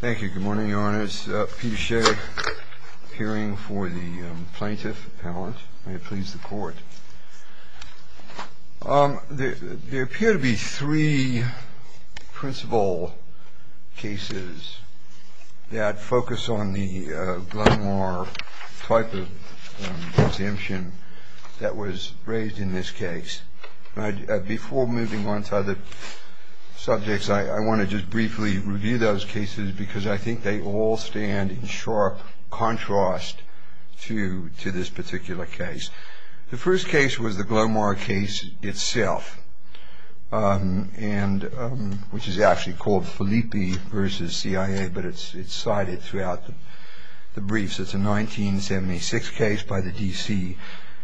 Thank you. Good morning, Your Honors. Peter Shea, appearing for the Plaintiff Appellant. May it please the Court. There appear to be three principal cases that focus on the Glenmore type of exemption that was raised in this case. Before moving on to other subjects, I want to just briefly review those cases because I think they all stand in sharp contrast to this particular case. The first case was the Glenmore case itself, which is actually called Filippi v. CIA, but it's cited throughout the briefs. It's a 1976 case by the D.C.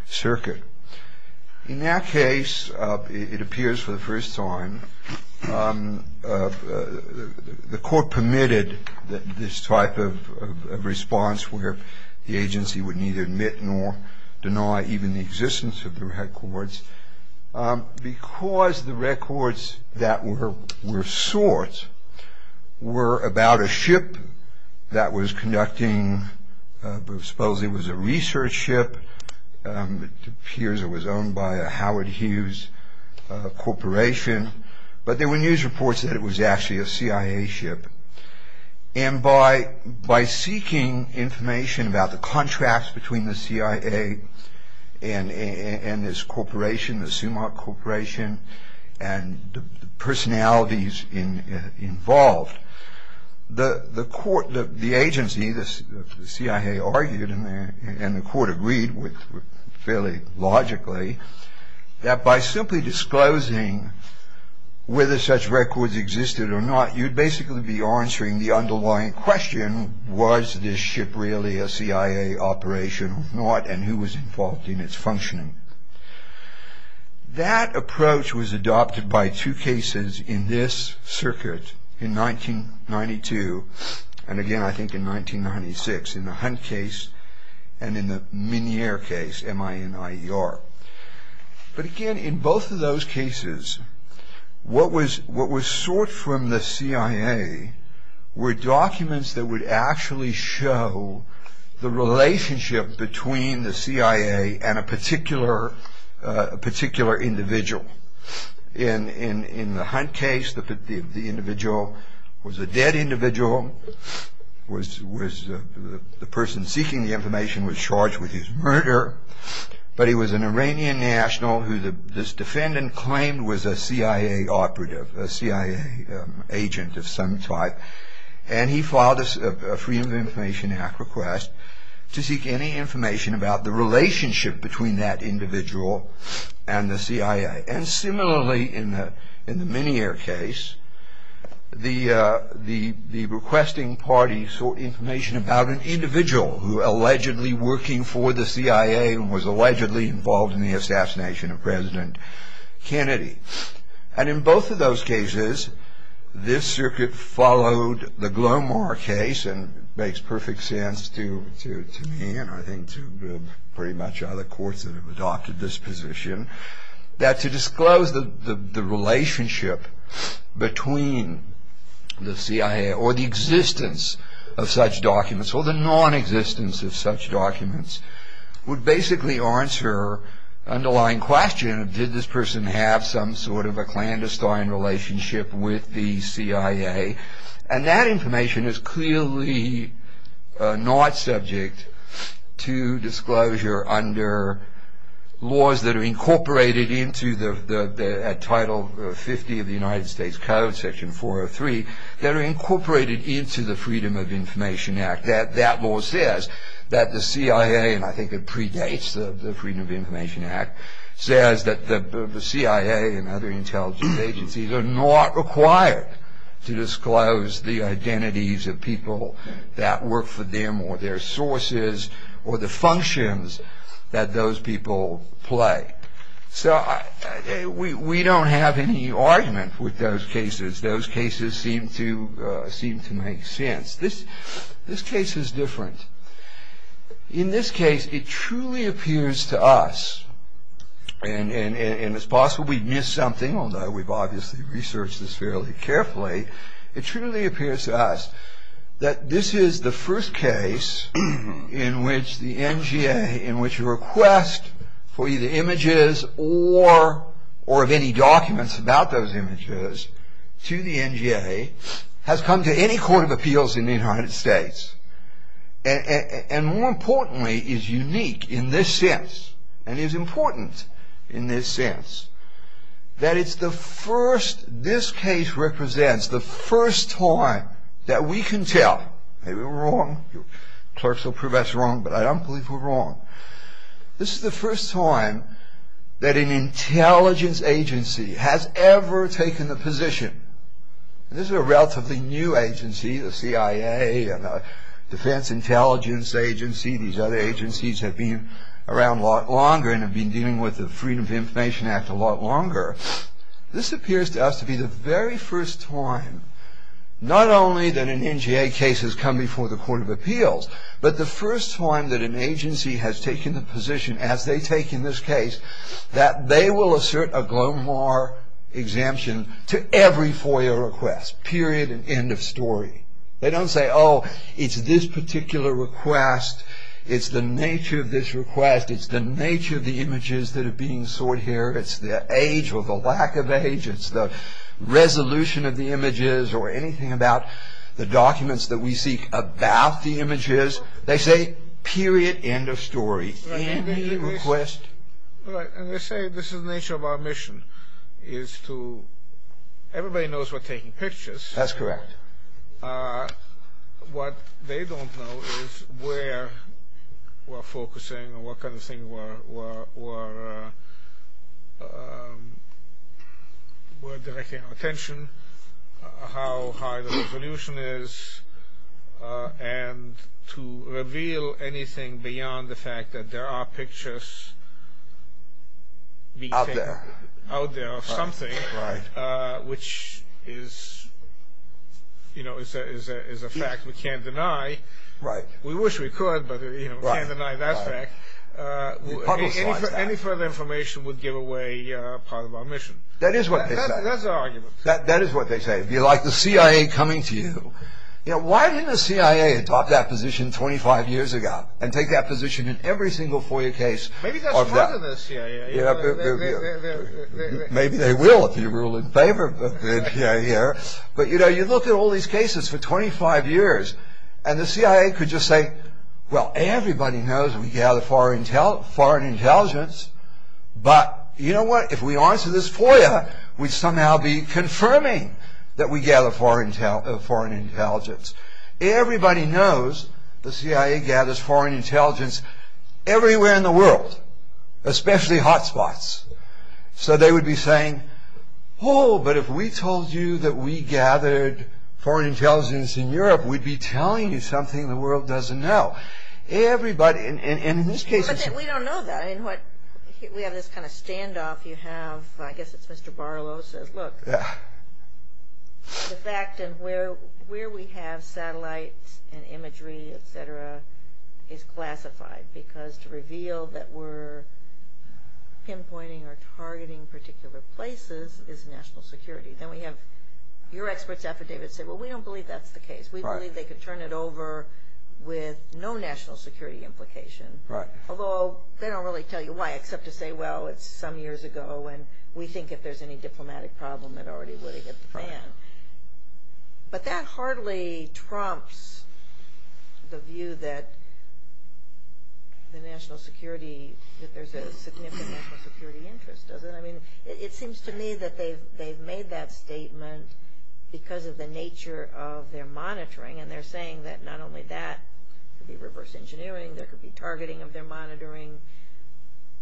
Circuit. In that case, it appears for the first time, the Court permitted this type of response where the agency would neither admit nor deny even the existence of the records because the records that were sought were about a ship that was conducting, supposedly it was a research ship. It appears it was owned by a Howard Hughes Corporation, but there were news reports that it was actually a CIA ship. And by seeking information about the contracts between the CIA and this corporation, the Sumac Corporation, and the personalities involved, the agency, the CIA, argued, and the Court agreed with fairly logically, that by simply disclosing whether such records existed or not, you'd basically be answering the underlying question, was this ship really a CIA operation or not, and who was involved in its functioning? That approach was adopted by two cases in this circuit in 1992, and again I think in 1996, in the Hunt case and in the Minear case, M-I-N-I-E-R. But again, in both of those cases, what was sought from the CIA were documents that would actually show the relationship between the CIA and a particular individual. In the Hunt case, the individual was a dead individual, the person seeking the information was charged with his murder, but he was an Iranian national who this defendant claimed was a CIA operative, a CIA agent of some type, and he filed a Freedom of Information Act request to seek any information about the relationship between that individual and the CIA. And similarly, in the Minear case, the requesting party sought information about an individual who allegedly working for the CIA and was allegedly involved in the assassination of President Kennedy. And in both of those cases, this circuit followed the Glomar case, and it makes perfect sense to me and I think to pretty much other courts that have adopted this position, that to disclose the relationship between the CIA or the existence of such documents, or the non-existence of such documents, would basically answer the underlying question, did this person have some sort of a clandestine relationship with the CIA? And that information is clearly not subject to disclosure under laws that are incorporated into the Title 50 of the United States Code, Section 403, that are incorporated into the Freedom of Information Act. That law says that the CIA, and I think it predates the Freedom of Information Act, says that the CIA and other intelligence agencies are not required to disclose the identities of people that work for them or their sources or the functions that those people play. So we don't have any argument with those cases. Those cases seem to make sense. This case is different. In this case, it truly appears to us, and it's possible we missed something, although we've obviously researched this fairly carefully, it truly appears to us that this is the first case in which the NGA, in which a request for either images or of any documents about those images to the NGA, has come to any court of appeals in the United States, and more importantly is unique in this sense and is important in this sense, that it's the first, this case represents the first time that we can tell, maybe we're wrong, clerks will prove us wrong, but I don't believe we're wrong, this is the first time that an intelligence agency has ever taken the position, and this is a relatively new agency, the CIA and the Defense Intelligence Agency, these other agencies have been around a lot longer and have been dealing with the Freedom of Information Act a lot longer, this appears to us to be the very first time, not only that an NGA case has come before the court of appeals, but the first time that an agency has taken the position, as they take in this case, that they will assert a Glomar exemption to every FOIA request, period and end of story. They don't say, oh, it's this particular request, it's the nature of this request, it's the nature of the images that are being sought here, it's the age or the lack of age, it's the resolution of the images, or anything about the documents that we seek about the images, they say period, end of story, any request. Right, and they say this is the nature of our mission, is to, everybody knows we're taking pictures. That's correct. What they don't know is where we're focusing, what kind of thing we're directing our attention, how high the resolution is, and to reveal anything beyond the fact that there are pictures out there of something, which is a fact we can't deny. We wish we could, but we can't deny that fact. Any further information would give away part of our mission. That is what they say. That's their argument. That is what they say. If you like the CIA coming to you, why didn't the CIA adopt that position 25 years ago, and take that position in every single FOIA case? Maybe that's part of the CIA. Maybe they will if you rule in favor of the CIA. But you look at all these cases for 25 years, and the CIA could just say, well, everybody knows we gather foreign intelligence, but you know what, if we answer this FOIA, we'd somehow be confirming that we gather foreign intelligence. Everybody knows the CIA gathers foreign intelligence everywhere in the world, especially hot spots. So they would be saying, oh, but if we told you that we gathered foreign intelligence in Europe, we'd be telling you something the world doesn't know. Everybody, and in these cases... We don't know that. We have this kind of standoff you have, I guess it's Mr. Barlow, is classified, because to reveal that we're pinpointing or targeting particular places is national security. Then we have your experts' affidavits say, well, we don't believe that's the case. We believe they could turn it over with no national security implication. Although they don't really tell you why, except to say, well, it's some years ago, and we think if there's any diplomatic problem, it already would have hit the fan. But that hardly trumps the view that the national security, that there's a significant national security interest, does it? I mean, it seems to me that they've made that statement because of the nature of their monitoring, and they're saying that not only that could be reverse engineering, there could be targeting of their monitoring.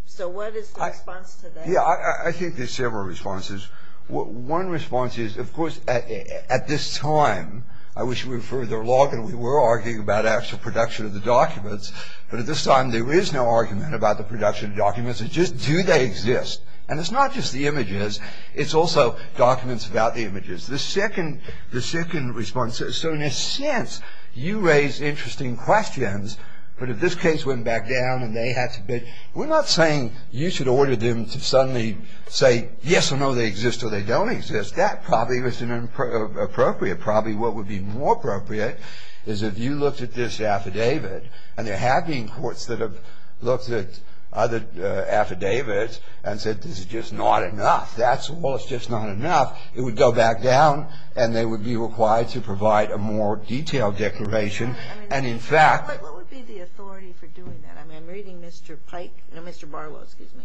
So what is the response to that? Yeah, I think there's several responses. One response is, of course, at this time, I wish we were further along, and we were arguing about actual production of the documents, but at this time there is no argument about the production of documents. It's just, do they exist? And it's not just the images. It's also documents about the images. The second response is, so in a sense, you raise interesting questions, but if this case went back down and they had to bid, we're not saying you should order them to suddenly say, yes or no, they exist or they don't exist. That probably isn't appropriate. Probably what would be more appropriate is if you looked at this affidavit, and there have been courts that have looked at other affidavits and said this is just not enough. That's all. It's just not enough. It would go back down, and they would be required to provide a more detailed declaration. And in fact- What would be the authority for doing that? I mean, I'm reading Mr. Pike, no, Mr. Barlow, excuse me.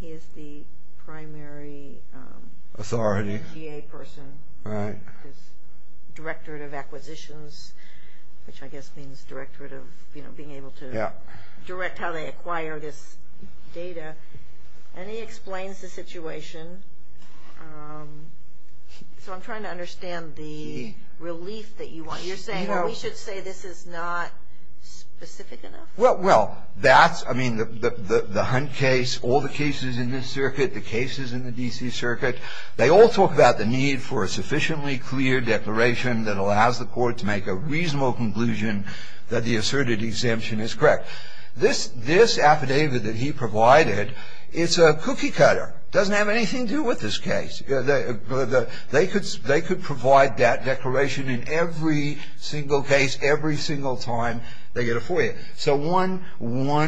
He is the primary- Authority. GA person. Right. He's director of acquisitions, which I guess means director of being able to direct how they acquire this data. And he explains the situation. So I'm trying to understand the relief that you want. You're saying, oh, we should say this is not specific enough? Well, that's, I mean, the Hunt case, all the cases in this circuit, the cases in the D.C. circuit, they all talk about the need for a sufficiently clear declaration that allows the court to make a reasonable conclusion that the asserted exemption is correct. This affidavit that he provided, it's a cookie cutter. It doesn't have anything to do with this case. They could provide that declaration in every single case, every single time they get it for you. So one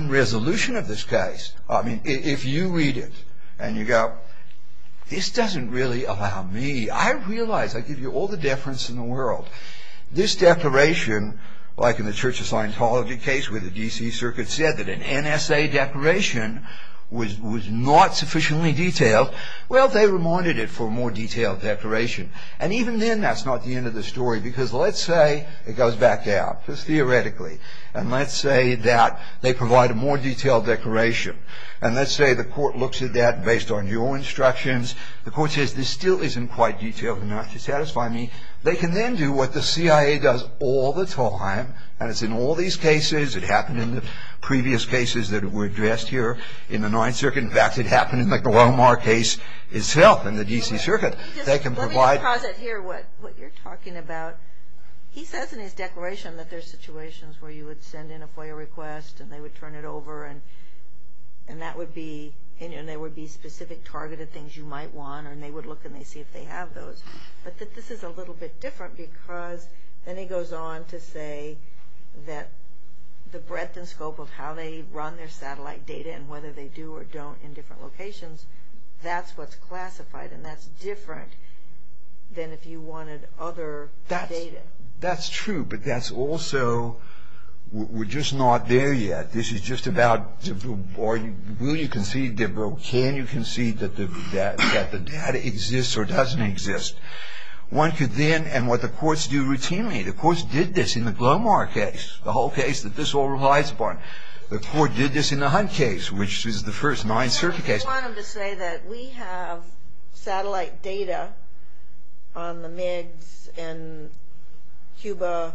resolution of this case, I mean, if you read it and you go, this doesn't really allow me, I realize, I give you all the deference in the world, this declaration, like in the Church of Scientology case where the D.C. circuit said that an NSA declaration was not sufficiently detailed, well, they reminded it for a more detailed declaration. And even then, that's not the end of the story, because let's say it goes back out, just theoretically. And let's say that they provide a more detailed declaration. And let's say the court looks at that based on your instructions. The court says, this still isn't quite detailed enough to satisfy me. They can then do what the CIA does all the time, and it's in all these cases. It happened in the previous cases that were addressed here in the Ninth Circuit. In fact, it happened in the Glomar case itself in the D.C. circuit. They can provide. Let me pause it here, what you're talking about. He says in his declaration that there's situations where you would send in a FOIA request, and they would turn it over, and there would be specific targeted things you might want, and they would look and see if they have those. But this is a little bit different, because then he goes on to say that the breadth and scope of how they run their satellite data, and whether they do or don't in different locations, that's what's classified, and that's different than if you wanted other data. That's true, but that's also, we're just not there yet. This is just about, will you concede, can you concede that the data exists or doesn't exist. One could then, and what the courts do routinely, the courts did this in the Glomar case, the whole case that this all relies upon. The court did this in the Hunt case, which is the first Ninth Circuit case. You want them to say that we have satellite data on the MiGs in Cuba,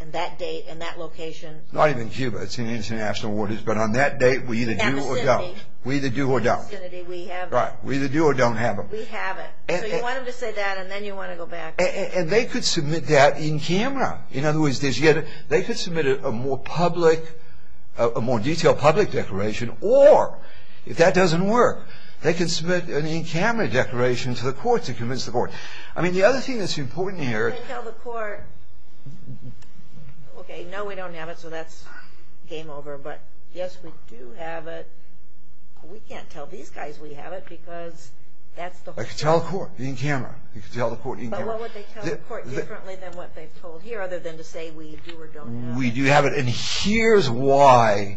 and that date and that location. Not even Cuba. It's in international waters. But on that date, we either do or don't. In the vicinity. We either do or don't. In the vicinity, we have it. Right. We either do or don't have it. We have it. So you want them to say that, and then you want to go back. And they could submit that in camera. In other words, they could submit a more public, a more detailed public declaration, or if that doesn't work, they could submit an in-camera declaration to the court to convince the court. I mean, the other thing that's important here. You can't tell the court, okay, no, we don't have it, so that's game over. But, yes, we do have it. We can't tell these guys we have it, because that's the whole thing. They could tell the court in camera. They could tell the court in camera. But what would they tell the court differently than what they've told here, other than to say we do or don't have it? We do have it. And here's why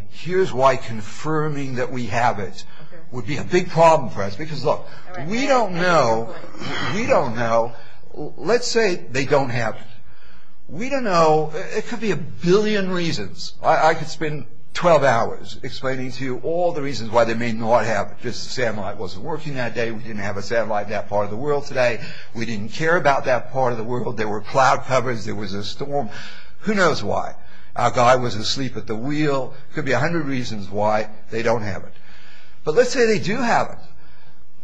confirming that we have it would be a big problem for us. Because, look, we don't know. We don't know. Let's say they don't have it. We don't know. It could be a billion reasons. I could spend 12 hours explaining to you all the reasons why they may not have it. Just the satellite wasn't working that day. We didn't have a satellite in that part of the world today. We didn't care about that part of the world. There were cloud covers. There was a storm. Who knows why? Our guy was asleep at the wheel. It could be 100 reasons why they don't have it. But let's say they do have it.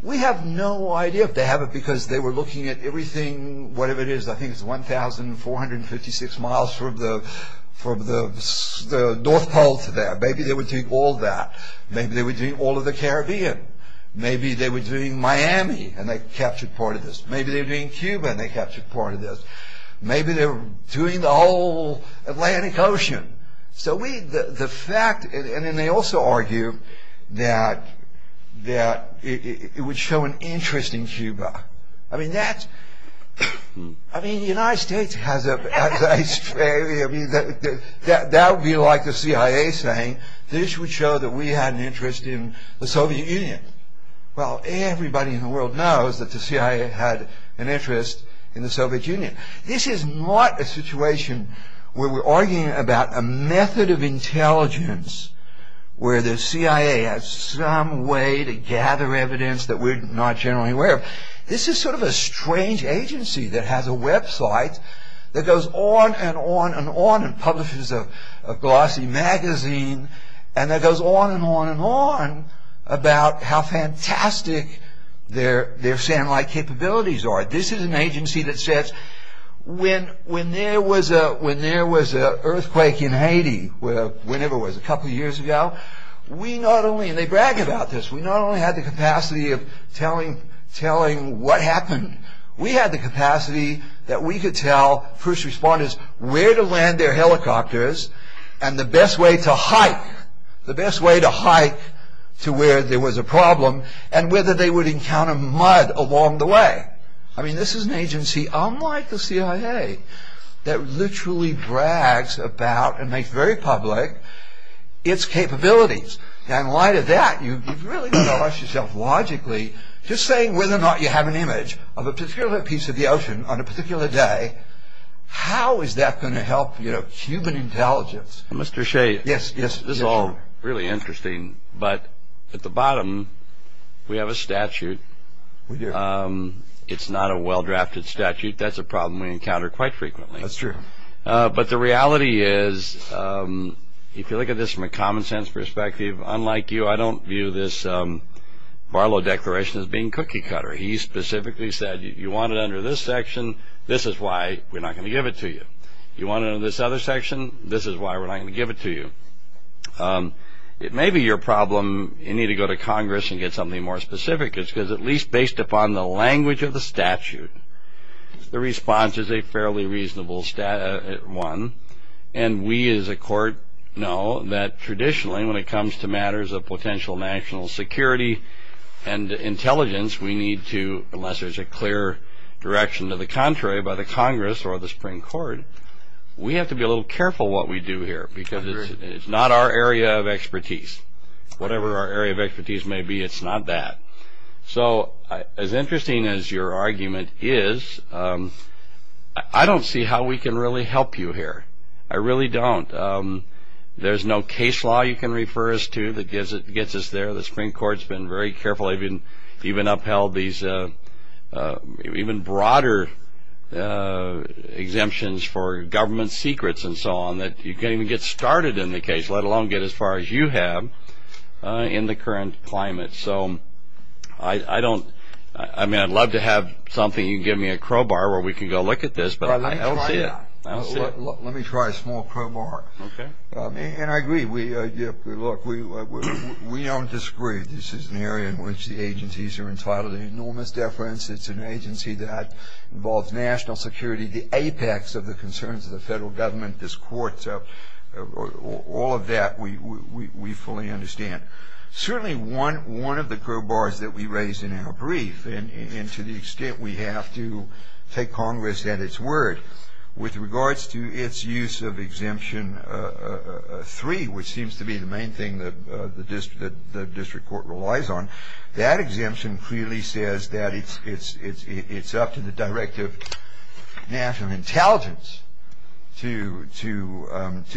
We have no idea if they have it, because they were looking at everything, whatever it is. I think it's 1,456 miles from the North Pole to there. Maybe they were doing all that. Maybe they were doing all of the Caribbean. Maybe they were doing Miami, and they captured part of this. Maybe they were doing Cuba, and they captured part of this. Maybe they were doing the whole Atlantic Ocean. So we, the fact, and then they also argue that it would show an interest in Cuba. I mean, that's, I mean, the United States has a, I mean, that would be like the CIA saying, this would show that we had an interest in the Soviet Union. Well, everybody in the world knows that the CIA had an interest in the Soviet Union. This is not a situation where we're arguing about a method of intelligence where the CIA has some way to gather evidence that we're not generally aware of. This is sort of a strange agency that has a website that goes on and on and on and publishes a glossy magazine, and that goes on and on and on about how fantastic their satellite capabilities are. This is an agency that says when there was an earthquake in Haiti, whenever it was, a couple of years ago, we not only, and they brag about this, we not only had the capacity of telling what happened, we had the capacity that we could tell first responders where to land their helicopters and the best way to hike, the best way to hike to where there was a problem and whether they would encounter mud along the way. I mean, this is an agency unlike the CIA that literally brags about and makes very public its capabilities. And in light of that, you've really got to ask yourself logically, just saying whether or not you have an image of a particular piece of the ocean on a particular day, how is that going to help human intelligence? Mr. Shea, this is all really interesting, but at the bottom we have a statute. We do. It's not a well-drafted statute. That's a problem we encounter quite frequently. That's true. But the reality is, if you look at this from a common sense perspective, unlike you, I don't view this Barlow Declaration as being cookie cutter. He specifically said, you want it under this section, this is why we're not going to give it to you. You want it under this other section, this is why we're not going to give it to you. It may be your problem, you need to go to Congress and get something more specific, because at least based upon the language of the statute, the response is a fairly reasonable one, and we as a court know that traditionally when it comes to matters of potential national security and intelligence we need to, unless there's a clear direction to the contrary by the Congress or the Supreme Court, we have to be a little careful what we do here, because it's not our area of expertise. Whatever our area of expertise may be, it's not that. So as interesting as your argument is, I don't see how we can really help you here. I really don't. There's no case law you can refer us to that gets us there. The Supreme Court's been very careful, even upheld these even broader exemptions for government secrets and so on, that you can't even get started in the case, let alone get as far as you have in the current climate. So I don't, I mean I'd love to have something, you can give me a crowbar where we can go look at this, but I don't see it. Let me try a small crowbar. Okay. And I agree. Look, we don't disagree. This is an area in which the agencies are entitled to enormous deference. It's an agency that involves national security, the apex of the concerns of the federal government, this court. So all of that we fully understand. Certainly one of the crowbars that we raised in our brief, and to the extent we have to take Congress at its word with regards to its use of Exemption 3, which seems to be the main thing that the district court relies on, that exemption clearly says that it's up to the Director of National Intelligence to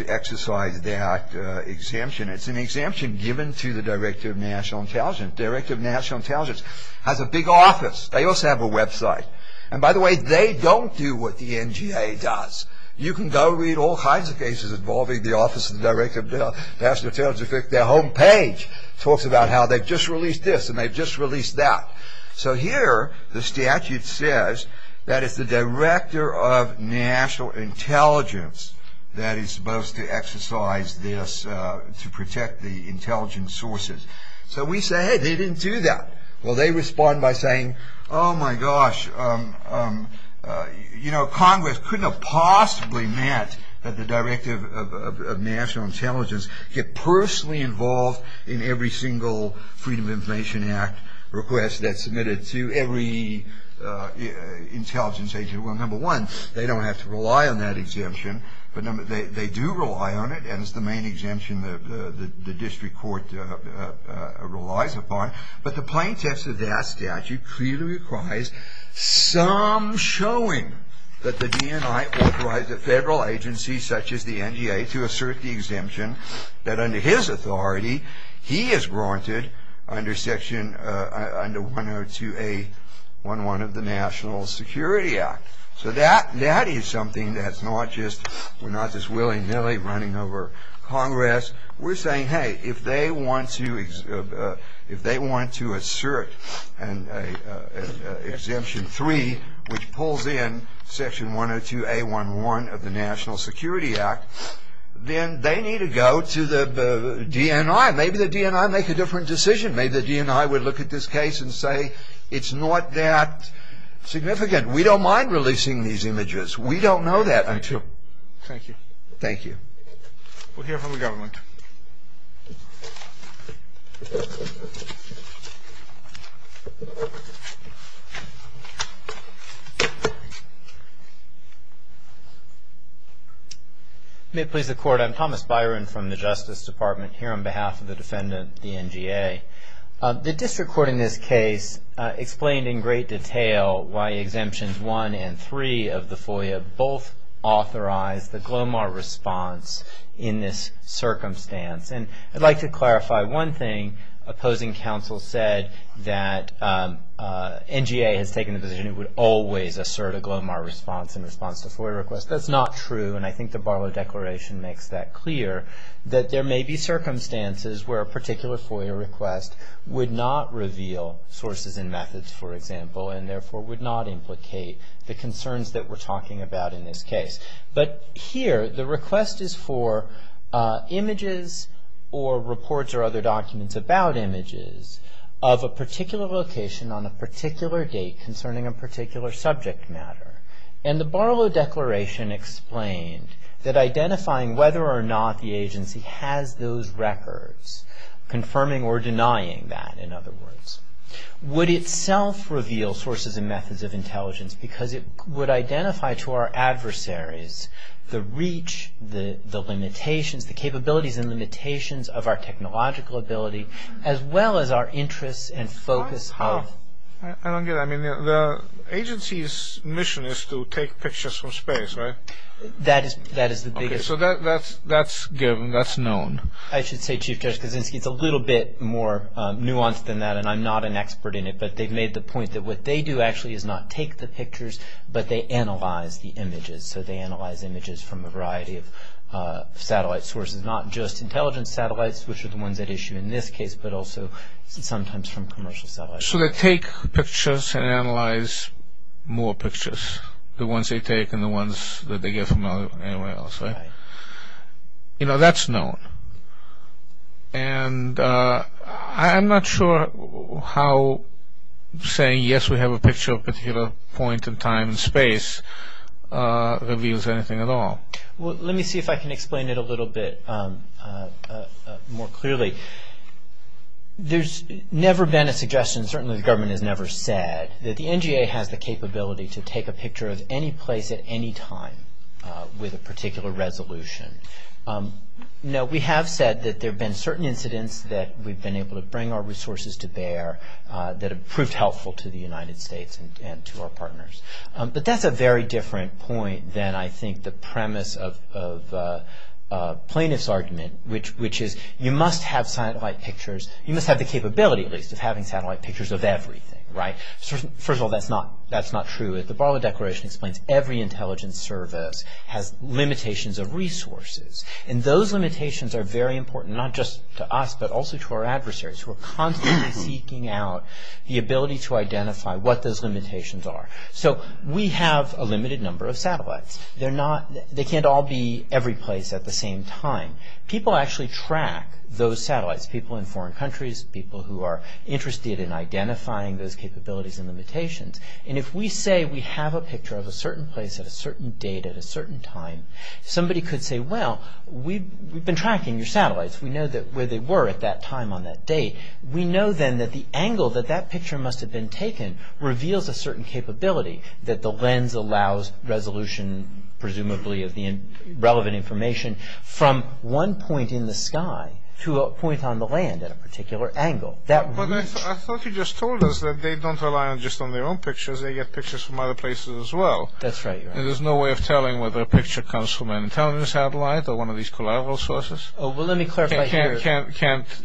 exercise that exemption. It's an exemption given to the Director of National Intelligence. The Director of National Intelligence has a big office. They also have a website. And by the way, they don't do what the NGA does. You can go read all kinds of cases involving the Office of the Director of National Intelligence. In fact, their homepage talks about how they've just released this and they've just released that. So here the statute says that it's the Director of National Intelligence that is supposed to exercise this to protect the intelligence sources. So we say, hey, they didn't do that. Well, they respond by saying, oh, my gosh, you know, Congress couldn't have possibly meant that the Director of National Intelligence get personally involved in every single Freedom of Information Act request that's submitted to every intelligence agent. Well, number one, they don't have to rely on that exemption. But they do rely on it. And it's the main exemption the district court relies upon. But the plain text of that statute clearly requires some showing that the DNI authorized a federal agency such as the NGA to assert the exemption that under his authority he is granted under section, under 102A11 of the National Security Act. So that is something that's not just, we're not just willy-nilly running over Congress. We're saying, hey, if they want to assert an exemption three, which pulls in section 102A11 of the National Security Act, then they need to go to the DNI. Maybe the DNI make a different decision. Maybe the DNI would look at this case and say it's not that significant. We don't mind releasing these images. We don't know that. Me too. Thank you. Thank you. We'll hear from the government. May it please the Court, I'm Thomas Byron from the Justice Department here on behalf of the defendant, the NGA. The district court in this case explained in great detail why exemptions one and three of the FOIA both authorize the GLOMAR response in this circumstance. And I'd like to clarify one thing. Opposing counsel said that NGA has taken the position it would always assert a GLOMAR response in response to FOIA requests. That's not true. And I think the Barlow Declaration makes that clear, that there may be circumstances where a particular FOIA request would not reveal sources and methods, for example, and therefore would not implicate the concerns that we're talking about in this case. But here, the request is for images or reports or other documents about images of a particular location on a particular date concerning a particular subject matter. And the Barlow Declaration explained that identifying whether or not the agency has those records, confirming or denying that, in other words, would itself reveal sources and methods of intelligence because it would identify to our adversaries the reach, the limitations, the capabilities and limitations of our technological ability as well as our interests and focus. I don't get it. The agency's mission is to take pictures from space, right? That is the biggest. So that's given, that's known. I should say, Chief Judge Kaczynski, it's a little bit more nuanced than that, and I'm not an expert in it, but they've made the point that what they do actually is not take the pictures, but they analyze the images. So they analyze images from a variety of satellite sources, not just intelligence satellites, which are the ones at issue in this case, but also sometimes from commercial satellites. So they take pictures and analyze more pictures, the ones they take and the ones that they get from anywhere else, right? Right. You know, that's known. And I'm not sure how saying yes, we have a picture of a particular point in time and space reveals anything at all. Well, let me see if I can explain it a little bit more clearly. There's never been a suggestion, certainly the government has never said, that the NGA has the capability to take a picture of any place at any time with a particular resolution. No, we have said that there have been certain incidents that we've been able to bring our resources to bear that have proved helpful to the United States and to our partners. But that's a very different point than I think the premise of plaintiff's argument, which is you must have satellite pictures. You must have the capability, at least, of having satellite pictures of everything, right? First of all, that's not true. The Barlow Declaration explains every intelligence service has limitations of resources. And those limitations are very important, not just to us, but also to our adversaries, who are constantly seeking out the ability to identify what those limitations are. So we have a limited number of satellites. They can't all be every place at the same time. People actually track those satellites, people in foreign countries, people who are interested in identifying those capabilities and limitations. And if we say we have a picture of a certain place at a certain date at a certain time, somebody could say, well, we've been tracking your satellites. We know where they were at that time on that date. We know, then, that the angle that that picture must have been taken reveals a certain capability, that the lens allows resolution, presumably, of the relevant information, from one point in the sky to a point on the land at a particular angle. But I thought you just told us that they don't rely just on their own pictures. They get pictures from other places as well. That's right. There's no way of telling whether a picture comes from an intelligence satellite or one of these collateral sources. Well, let me clarify here.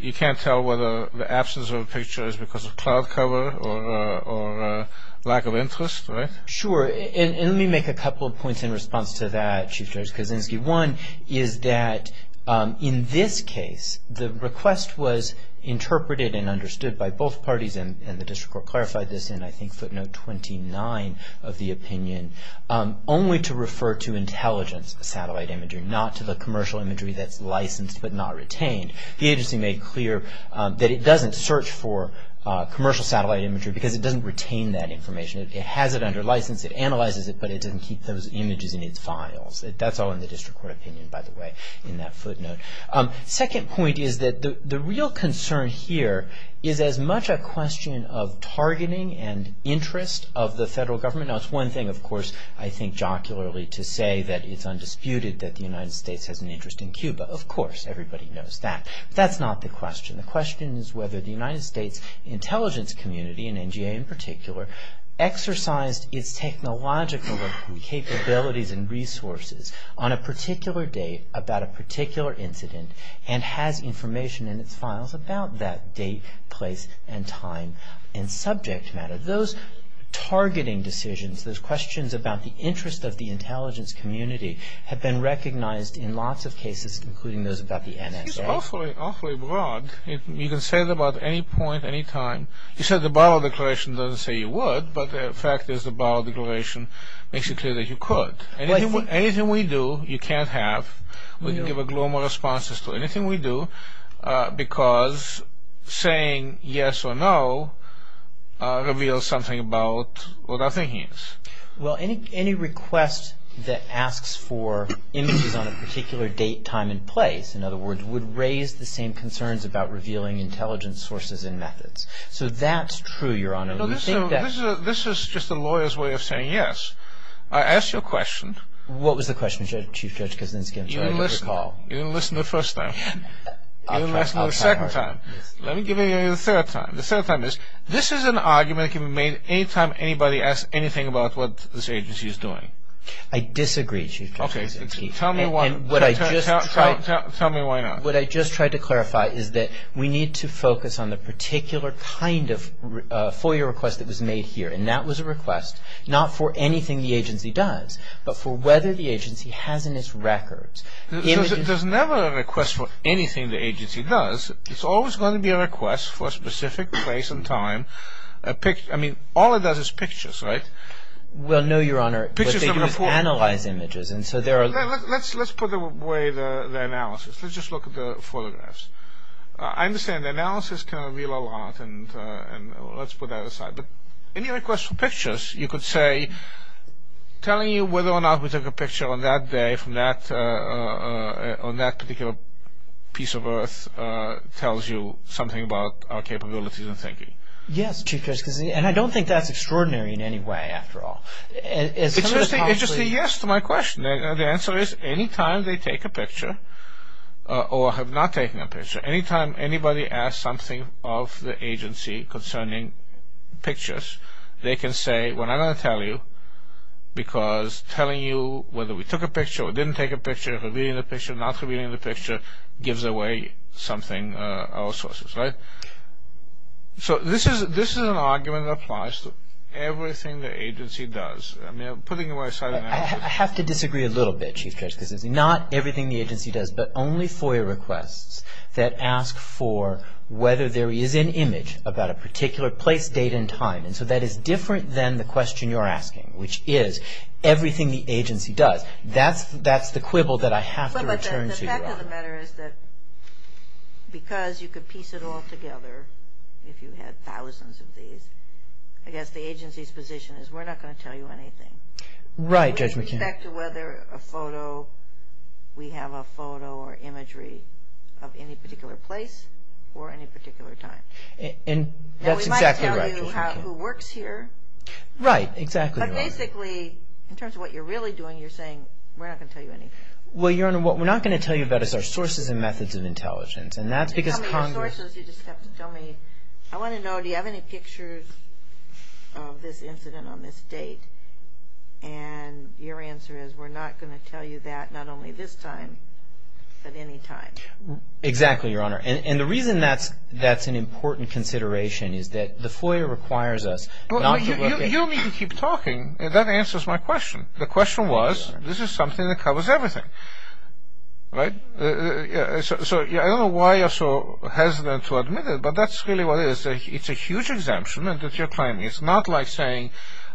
You can't tell whether the absence of a picture is because of cloud cover or lack of interest, right? Sure. And let me make a couple of points in response to that, Chief Justice Kuczynski. One is that, in this case, the request was interpreted and understood by both parties, and the district court clarified this in, I think, footnote 29 of the opinion, only to refer to intelligence satellite imagery, not to the commercial imagery that's licensed but not retained. The agency made clear that it doesn't search for commercial satellite imagery because it doesn't retain that information. It has it under license. It analyzes it, but it doesn't keep those images in its files. That's all in the district court opinion, by the way, in that footnote. Second point is that the real concern here is as much a question of targeting and interest of the federal government. Now, it's one thing, of course, I think jocularly to say that it's undisputed that the United States has an interest in Cuba. Of course, everybody knows that, but that's not the question. The question is whether the United States intelligence community, and NGA in particular, exercised its technological capabilities and resources on a particular date about a particular incident and has information in its files about that date, place, and time and subject matter. Those targeting decisions, those questions about the interest of the intelligence community have been recognized in lots of cases, including those about the NSA. It's awfully broad. You can say it about any point, any time. You said the Barrow Declaration doesn't say you would, but the fact is the Barrow Declaration makes it clear that you could. Anything we do, you can't have. We can give a gloom of responses to anything we do because saying yes or no reveals something about what our thinking is. Well, any request that asks for images on a particular date, time, and place, in other words, would raise the same concerns about revealing intelligence sources and methods. So that's true, Your Honor. This is just a lawyer's way of saying yes. I asked you a question. What was the question, Chief Judge? You didn't listen the first time. You didn't listen the second time. Let me give you the third time. This is an argument that can be made any time anybody asks anything about what this agency is doing. I disagree, Chief Judge. Tell me why not. What I just tried to clarify is that we need to focus on the particular kind of FOIA request that was made here, and that was a request not for anything the agency does, but for whether the agency has in its records images. There's never a request for anything the agency does. It's always going to be a request for a specific place and time. I mean, all it does is pictures, right? Well, no, Your Honor, what they do is analyze images. Let's put away the analysis. Let's just look at the photographs. I understand the analysis can reveal a lot, and let's put that aside. But any request for pictures, you could say, telling you whether or not we took a picture on that day from that particular piece of earth tells you something about our capabilities and thinking. Yes, Chief Judge, and I don't think that's extraordinary in any way after all. It's just a yes to my question. The answer is any time they take a picture or have not taken a picture, any time anybody asks something of the agency concerning pictures, they can say, well, I'm going to tell you because telling you whether we took a picture or didn't take a picture, revealing the picture, not revealing the picture, gives away something, our sources, right? So this is an argument that applies to everything the agency does. I mean, I'm putting it aside. I have to disagree a little bit, Chief Judge, because it's not everything the agency does, but only FOIA requests that ask for whether there is an image about a particular place, date, and time. And so that is different than the question you're asking, which is everything the agency does. That's the quibble that I have to return to you on. But the fact of the matter is that because you could piece it all together, if you had thousands of these, I guess the agency's position is we're not going to tell you anything. Right, Judge McHenry. We expect whether we have a photo or imagery of any particular place or any particular time. Now, we might tell you who works here. Right, exactly, Your Honor. But basically, in terms of what you're really doing, you're saying we're not going to tell you anything. Well, Your Honor, what we're not going to tell you about is our sources and methods of intelligence. And that's because Congress Tell me your sources, you just have to tell me. I want to know, do you have any pictures of this incident on this date? And your answer is we're not going to tell you that, not only this time, but any time. Exactly, Your Honor. And the reason that's an important consideration is that the FOIA requires us. You don't need to keep talking. That answers my question. The question was, this is something that covers everything. Right? So I don't know why you're so hesitant to admit it, but that's really what it is. It's a huge exemption that you're claiming. It's not like saying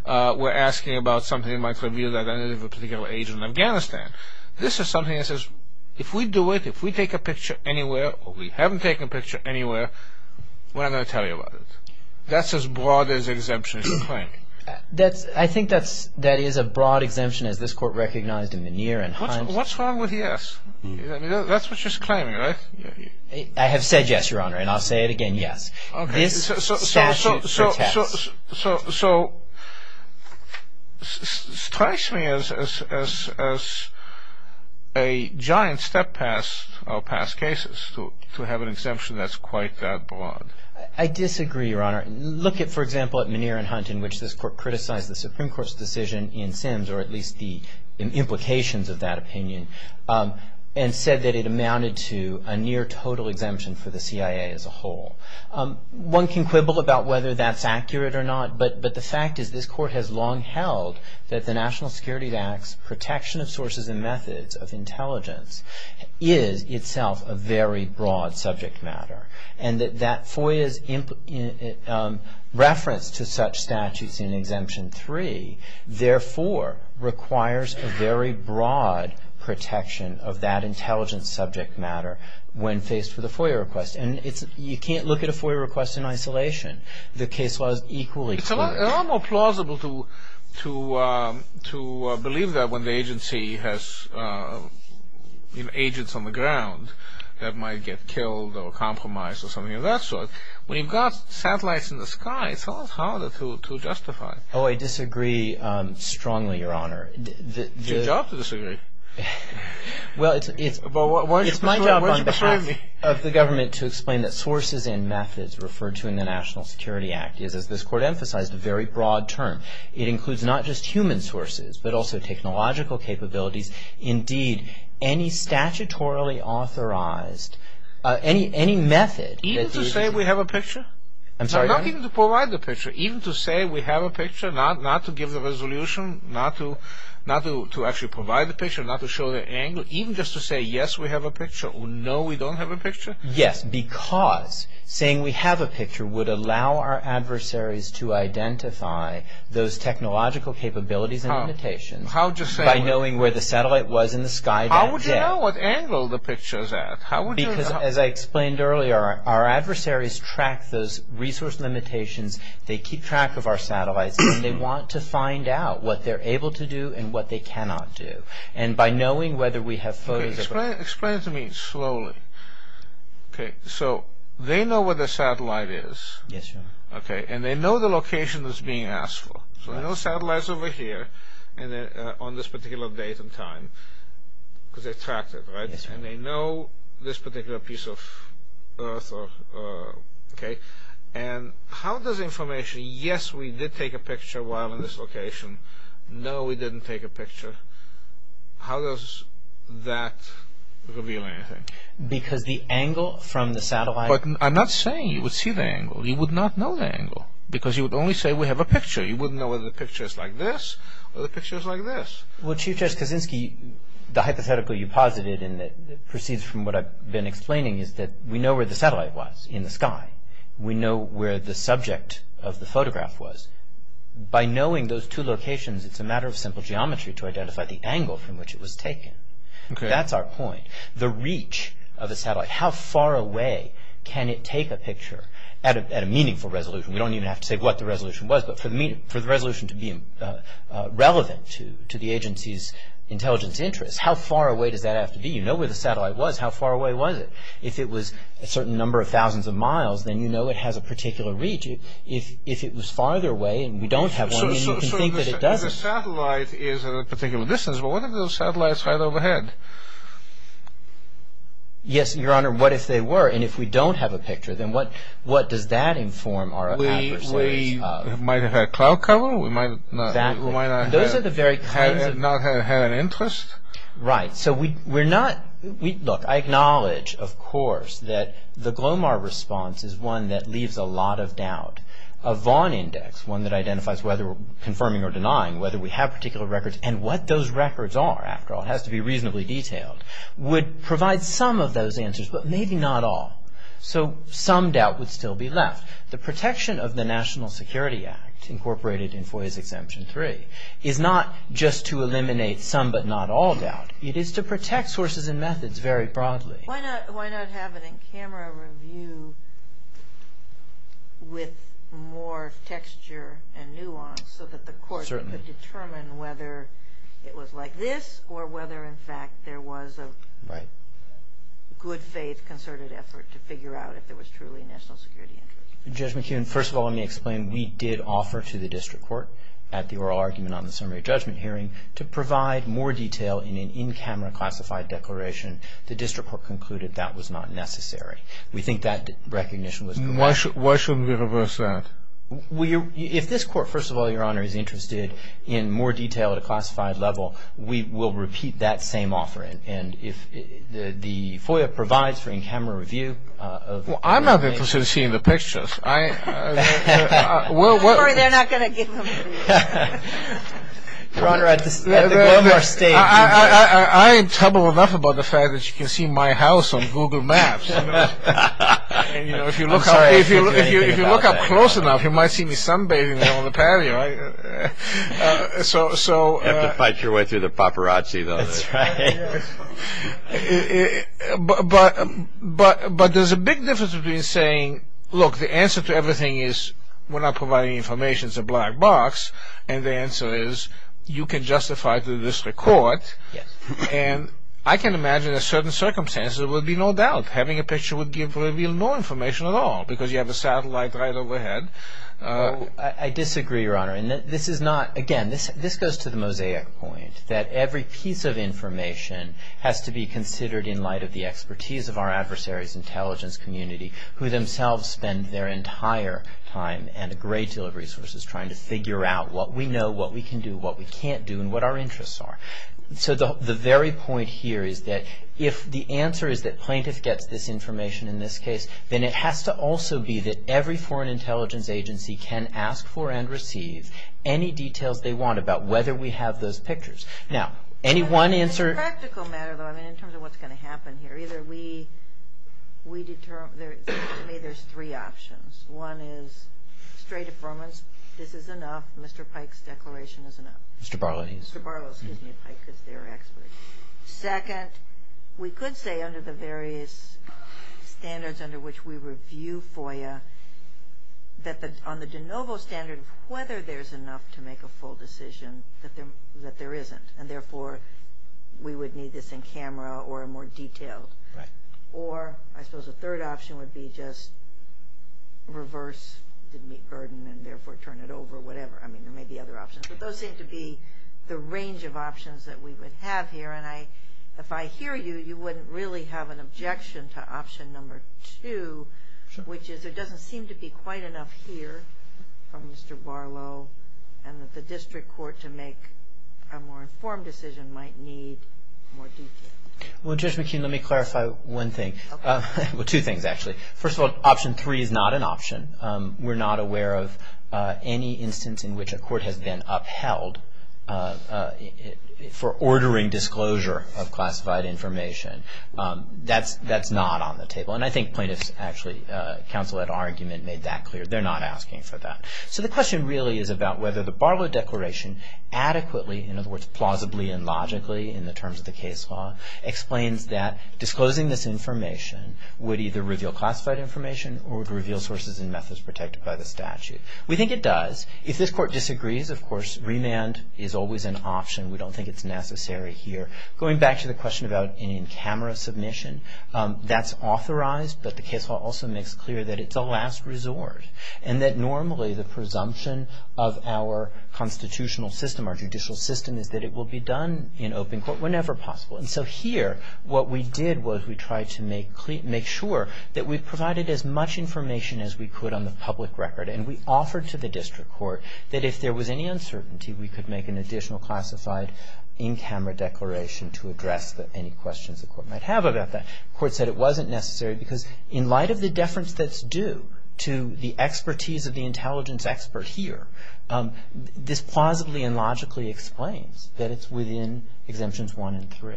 we're asking about something that might reveal the identity of a particular agent in Afghanistan. This is something that says, if we do it, if we take a picture anywhere, or we haven't taken a picture anywhere, we're not going to tell you about it. That's as broad an exemption as you're claiming. I think that is a broad exemption, as this Court recognized in the Neer and Hines. What's wrong with yes? That's what you're claiming, right? I have said yes, Your Honor, and I'll say it again, yes. This statute protects. So it strikes me as a giant step past past cases to have an exemption that's quite that broad. I disagree, Your Honor. Look, for example, at Muneer and Hunt, in which this Court criticized the Supreme Court's decision in Sims, or at least the implications of that opinion, and said that it amounted to a near total exemption for the CIA as a whole. One can quibble about whether that's accurate or not, but the fact is this Court has long held that the National Security Act's protection of sources and methods of intelligence is itself a very broad subject matter. And that FOIA's reference to such statutes in Exemption 3, therefore, requires a very broad protection of that intelligence subject matter when faced with a FOIA request. And you can't look at a FOIA request in isolation. The case law is equally clear. It's a lot more plausible to believe that when the agency has agents on the ground that might get killed or compromised or something of that sort. When you've got satellites in the sky, it's a lot harder to justify. Oh, I disagree strongly, Your Honor. It's your job to disagree. Well, it's my job on behalf of the government to explain that sources and methods referred to in the National Security Act is, as this Court emphasized, a very broad term. It includes not just human sources, but also technological capabilities. Indeed, any statutorily authorized, any method... Even to say we have a picture? I'm sorry, Your Honor? No, not even to provide the picture. Even to say we have a picture, not to give the resolution, not to actually provide the picture, not to show the angle, even just to say, yes, we have a picture, or no, we don't have a picture? Yes, because saying we have a picture would allow our adversaries to identify those technological capabilities and limitations by knowing where the satellite was in the sky that day. How would you know what angle the picture is at? Because, as I explained earlier, our adversaries track those resource limitations. They keep track of our satellites, and they want to find out what they're able to do and what they cannot do. And by knowing whether we have photos... Explain it to me slowly. Okay, so they know where the satellite is. Yes, Your Honor. Okay, and they know the location that's being asked for. So they know the satellite's over here, on this particular date and time, because they tracked it, right? Yes, Your Honor. And they know this particular piece of earth. Okay, and how does information... Yes, we did take a picture while in this location. No, we didn't take a picture. How does that reveal anything? Because the angle from the satellite... But I'm not saying you would see the angle. You would not know the angle, because you would only say we have a picture. You wouldn't know whether the picture is like this, or the picture is like this. Well, Chief Justice Kaczynski, the hypothetical you posited, and it proceeds from what I've been explaining, is that we know where the satellite was in the sky. We know where the subject of the photograph was. By knowing those two locations, it's a matter of simple geometry to identify the angle from which it was taken. That's our point. The reach of a satellite, how far away can it take a picture at a meaningful resolution? We don't even have to say what the resolution was, but for the resolution to be relevant to the agency's intelligence interests, how far away does that have to be? You know where the satellite was, how far away was it? If it was a certain number of thousands of miles, then you know it has a particular reach. If it was farther away, and we don't have one, then you can think that it doesn't. So the satellite is at a particular distance, but what if those satellites are right overhead? Yes, Your Honor, what if they were? And if we don't have a picture, then what does that inform our adversaries of? We might have had cloud cover. We might not have had an interest. Right. Look, I acknowledge, of course, that the Glomar response is one that leaves a lot of doubt. A Vaughn index, one that identifies whether we're confirming or denying whether we have particular records, and what those records are, after all, it has to be reasonably detailed, would provide some of those answers, but maybe not all. So some doubt would still be left. The protection of the National Security Act, incorporated in FOIA's Exemption 3, is not just to eliminate some but not all doubt. It is to protect sources and methods very broadly. Why not have an in-camera review with more texture and nuance so that the court could determine whether it was like this, or whether, in fact, there was a good-faith concerted effort to figure out if there was truly a national security interest? Judge McKeon, first of all, let me explain. We did offer to the district court, at the oral argument on the summary judgment hearing, to provide more detail in an in-camera classified declaration. The district court concluded that was not necessary. We think that recognition was required. Why shouldn't we reverse that? If this court, first of all, Your Honor, is interested in more detail at a classified level, we will repeat that same offer. And if the FOIA provides for in-camera review of the record. Well, I'm not interested in seeing the pictures. I'm in trouble enough about the fact that you can see my house on Google Maps. If you look up close enough, you might see me sunbathing on the patio. You have to fight your way through the paparazzi, though. That's right. But there's a big difference between saying, look, the answer to everything is, we're not providing any information, it's a black box. And the answer is, you can justify it to the district court. And I can imagine in certain circumstances there would be no doubt having a picture would reveal no information at all because you have a satellite right overhead. I disagree, Your Honor. Again, this goes to the mosaic point that every piece of information has to be considered in light of the expertise of our adversaries' intelligence community who themselves spend their entire time and a great deal of resources trying to figure out what we know, what we can do, what we can't do, and what our interests are. So the very point here is that if the answer is that plaintiff gets this information in this case, then it has to also be that every foreign intelligence agency can ask for and receive any details they want about whether we have those pictures. Now, any one answer – It's a practical matter, though, in terms of what's going to happen here. Either we determine – to me, there's three options. One is straight affirmance. This is enough. Mr. Pike's declaration is enough. Mr. Barlow, please. Mr. Barlow. Excuse me, Pike, because they're experts. Second, we could say under the various standards under which we review FOIA that on the de novo standard, whether there's enough to make a full decision that there isn't, and therefore we would need this in camera or more detailed. Right. Or I suppose a third option would be just reverse the burden and therefore turn it over, whatever. I mean, there may be other options. But those seem to be the range of options that we would have here, and if I hear you, you wouldn't really have an objection to option number two, which is there doesn't seem to be quite enough here from Mr. Barlow and that the district court to make a more informed decision might need more detail. Well, Judge McKeon, let me clarify one thing. Okay. Well, two things, actually. First of all, option three is not an option. We're not aware of any instance in which a court has been upheld for ordering disclosure of classified information. That's not on the table. And I think plaintiffs actually, counsel at argument made that clear. They're not asking for that. So the question really is about whether the Barlow Declaration adequately, in other words plausibly and logically in the terms of the case law, explains that disclosing this information would either reveal classified information or would reveal sources and methods protected by the statute. We think it does. If this court disagrees, of course, remand is always an option. We don't think it's necessary here. Going back to the question about in-camera submission, that's authorized, but the case law also makes clear that it's a last resort and that normally the presumption of our constitutional system, our judicial system, is that it will be done in open court whenever possible. And so here, what we did was we tried to make clear, make sure that we provided as much information as we could on the public record. And we offered to the district court that if there was any uncertainty, we could make an additional classified in-camera declaration to address any questions the court might have about that. The court said it wasn't necessary because in light of the deference that's due to the expertise of the intelligence expert here, this plausibly and logically explains that it's within Exemptions 1 and 3.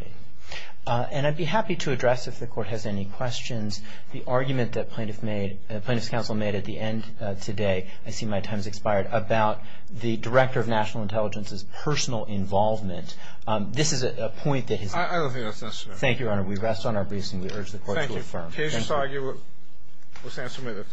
And I'd be happy to address, if the court has any questions, the argument that Plaintiff's Counsel made at the end today, I see my time has expired, about the Director of National Intelligence's personal involvement. This is a point that has... I don't think that's necessary. Thank you, Your Honor. We rest on our briefs and we urge the court to affirm. Thank you. Can I just argue with Sam Smith?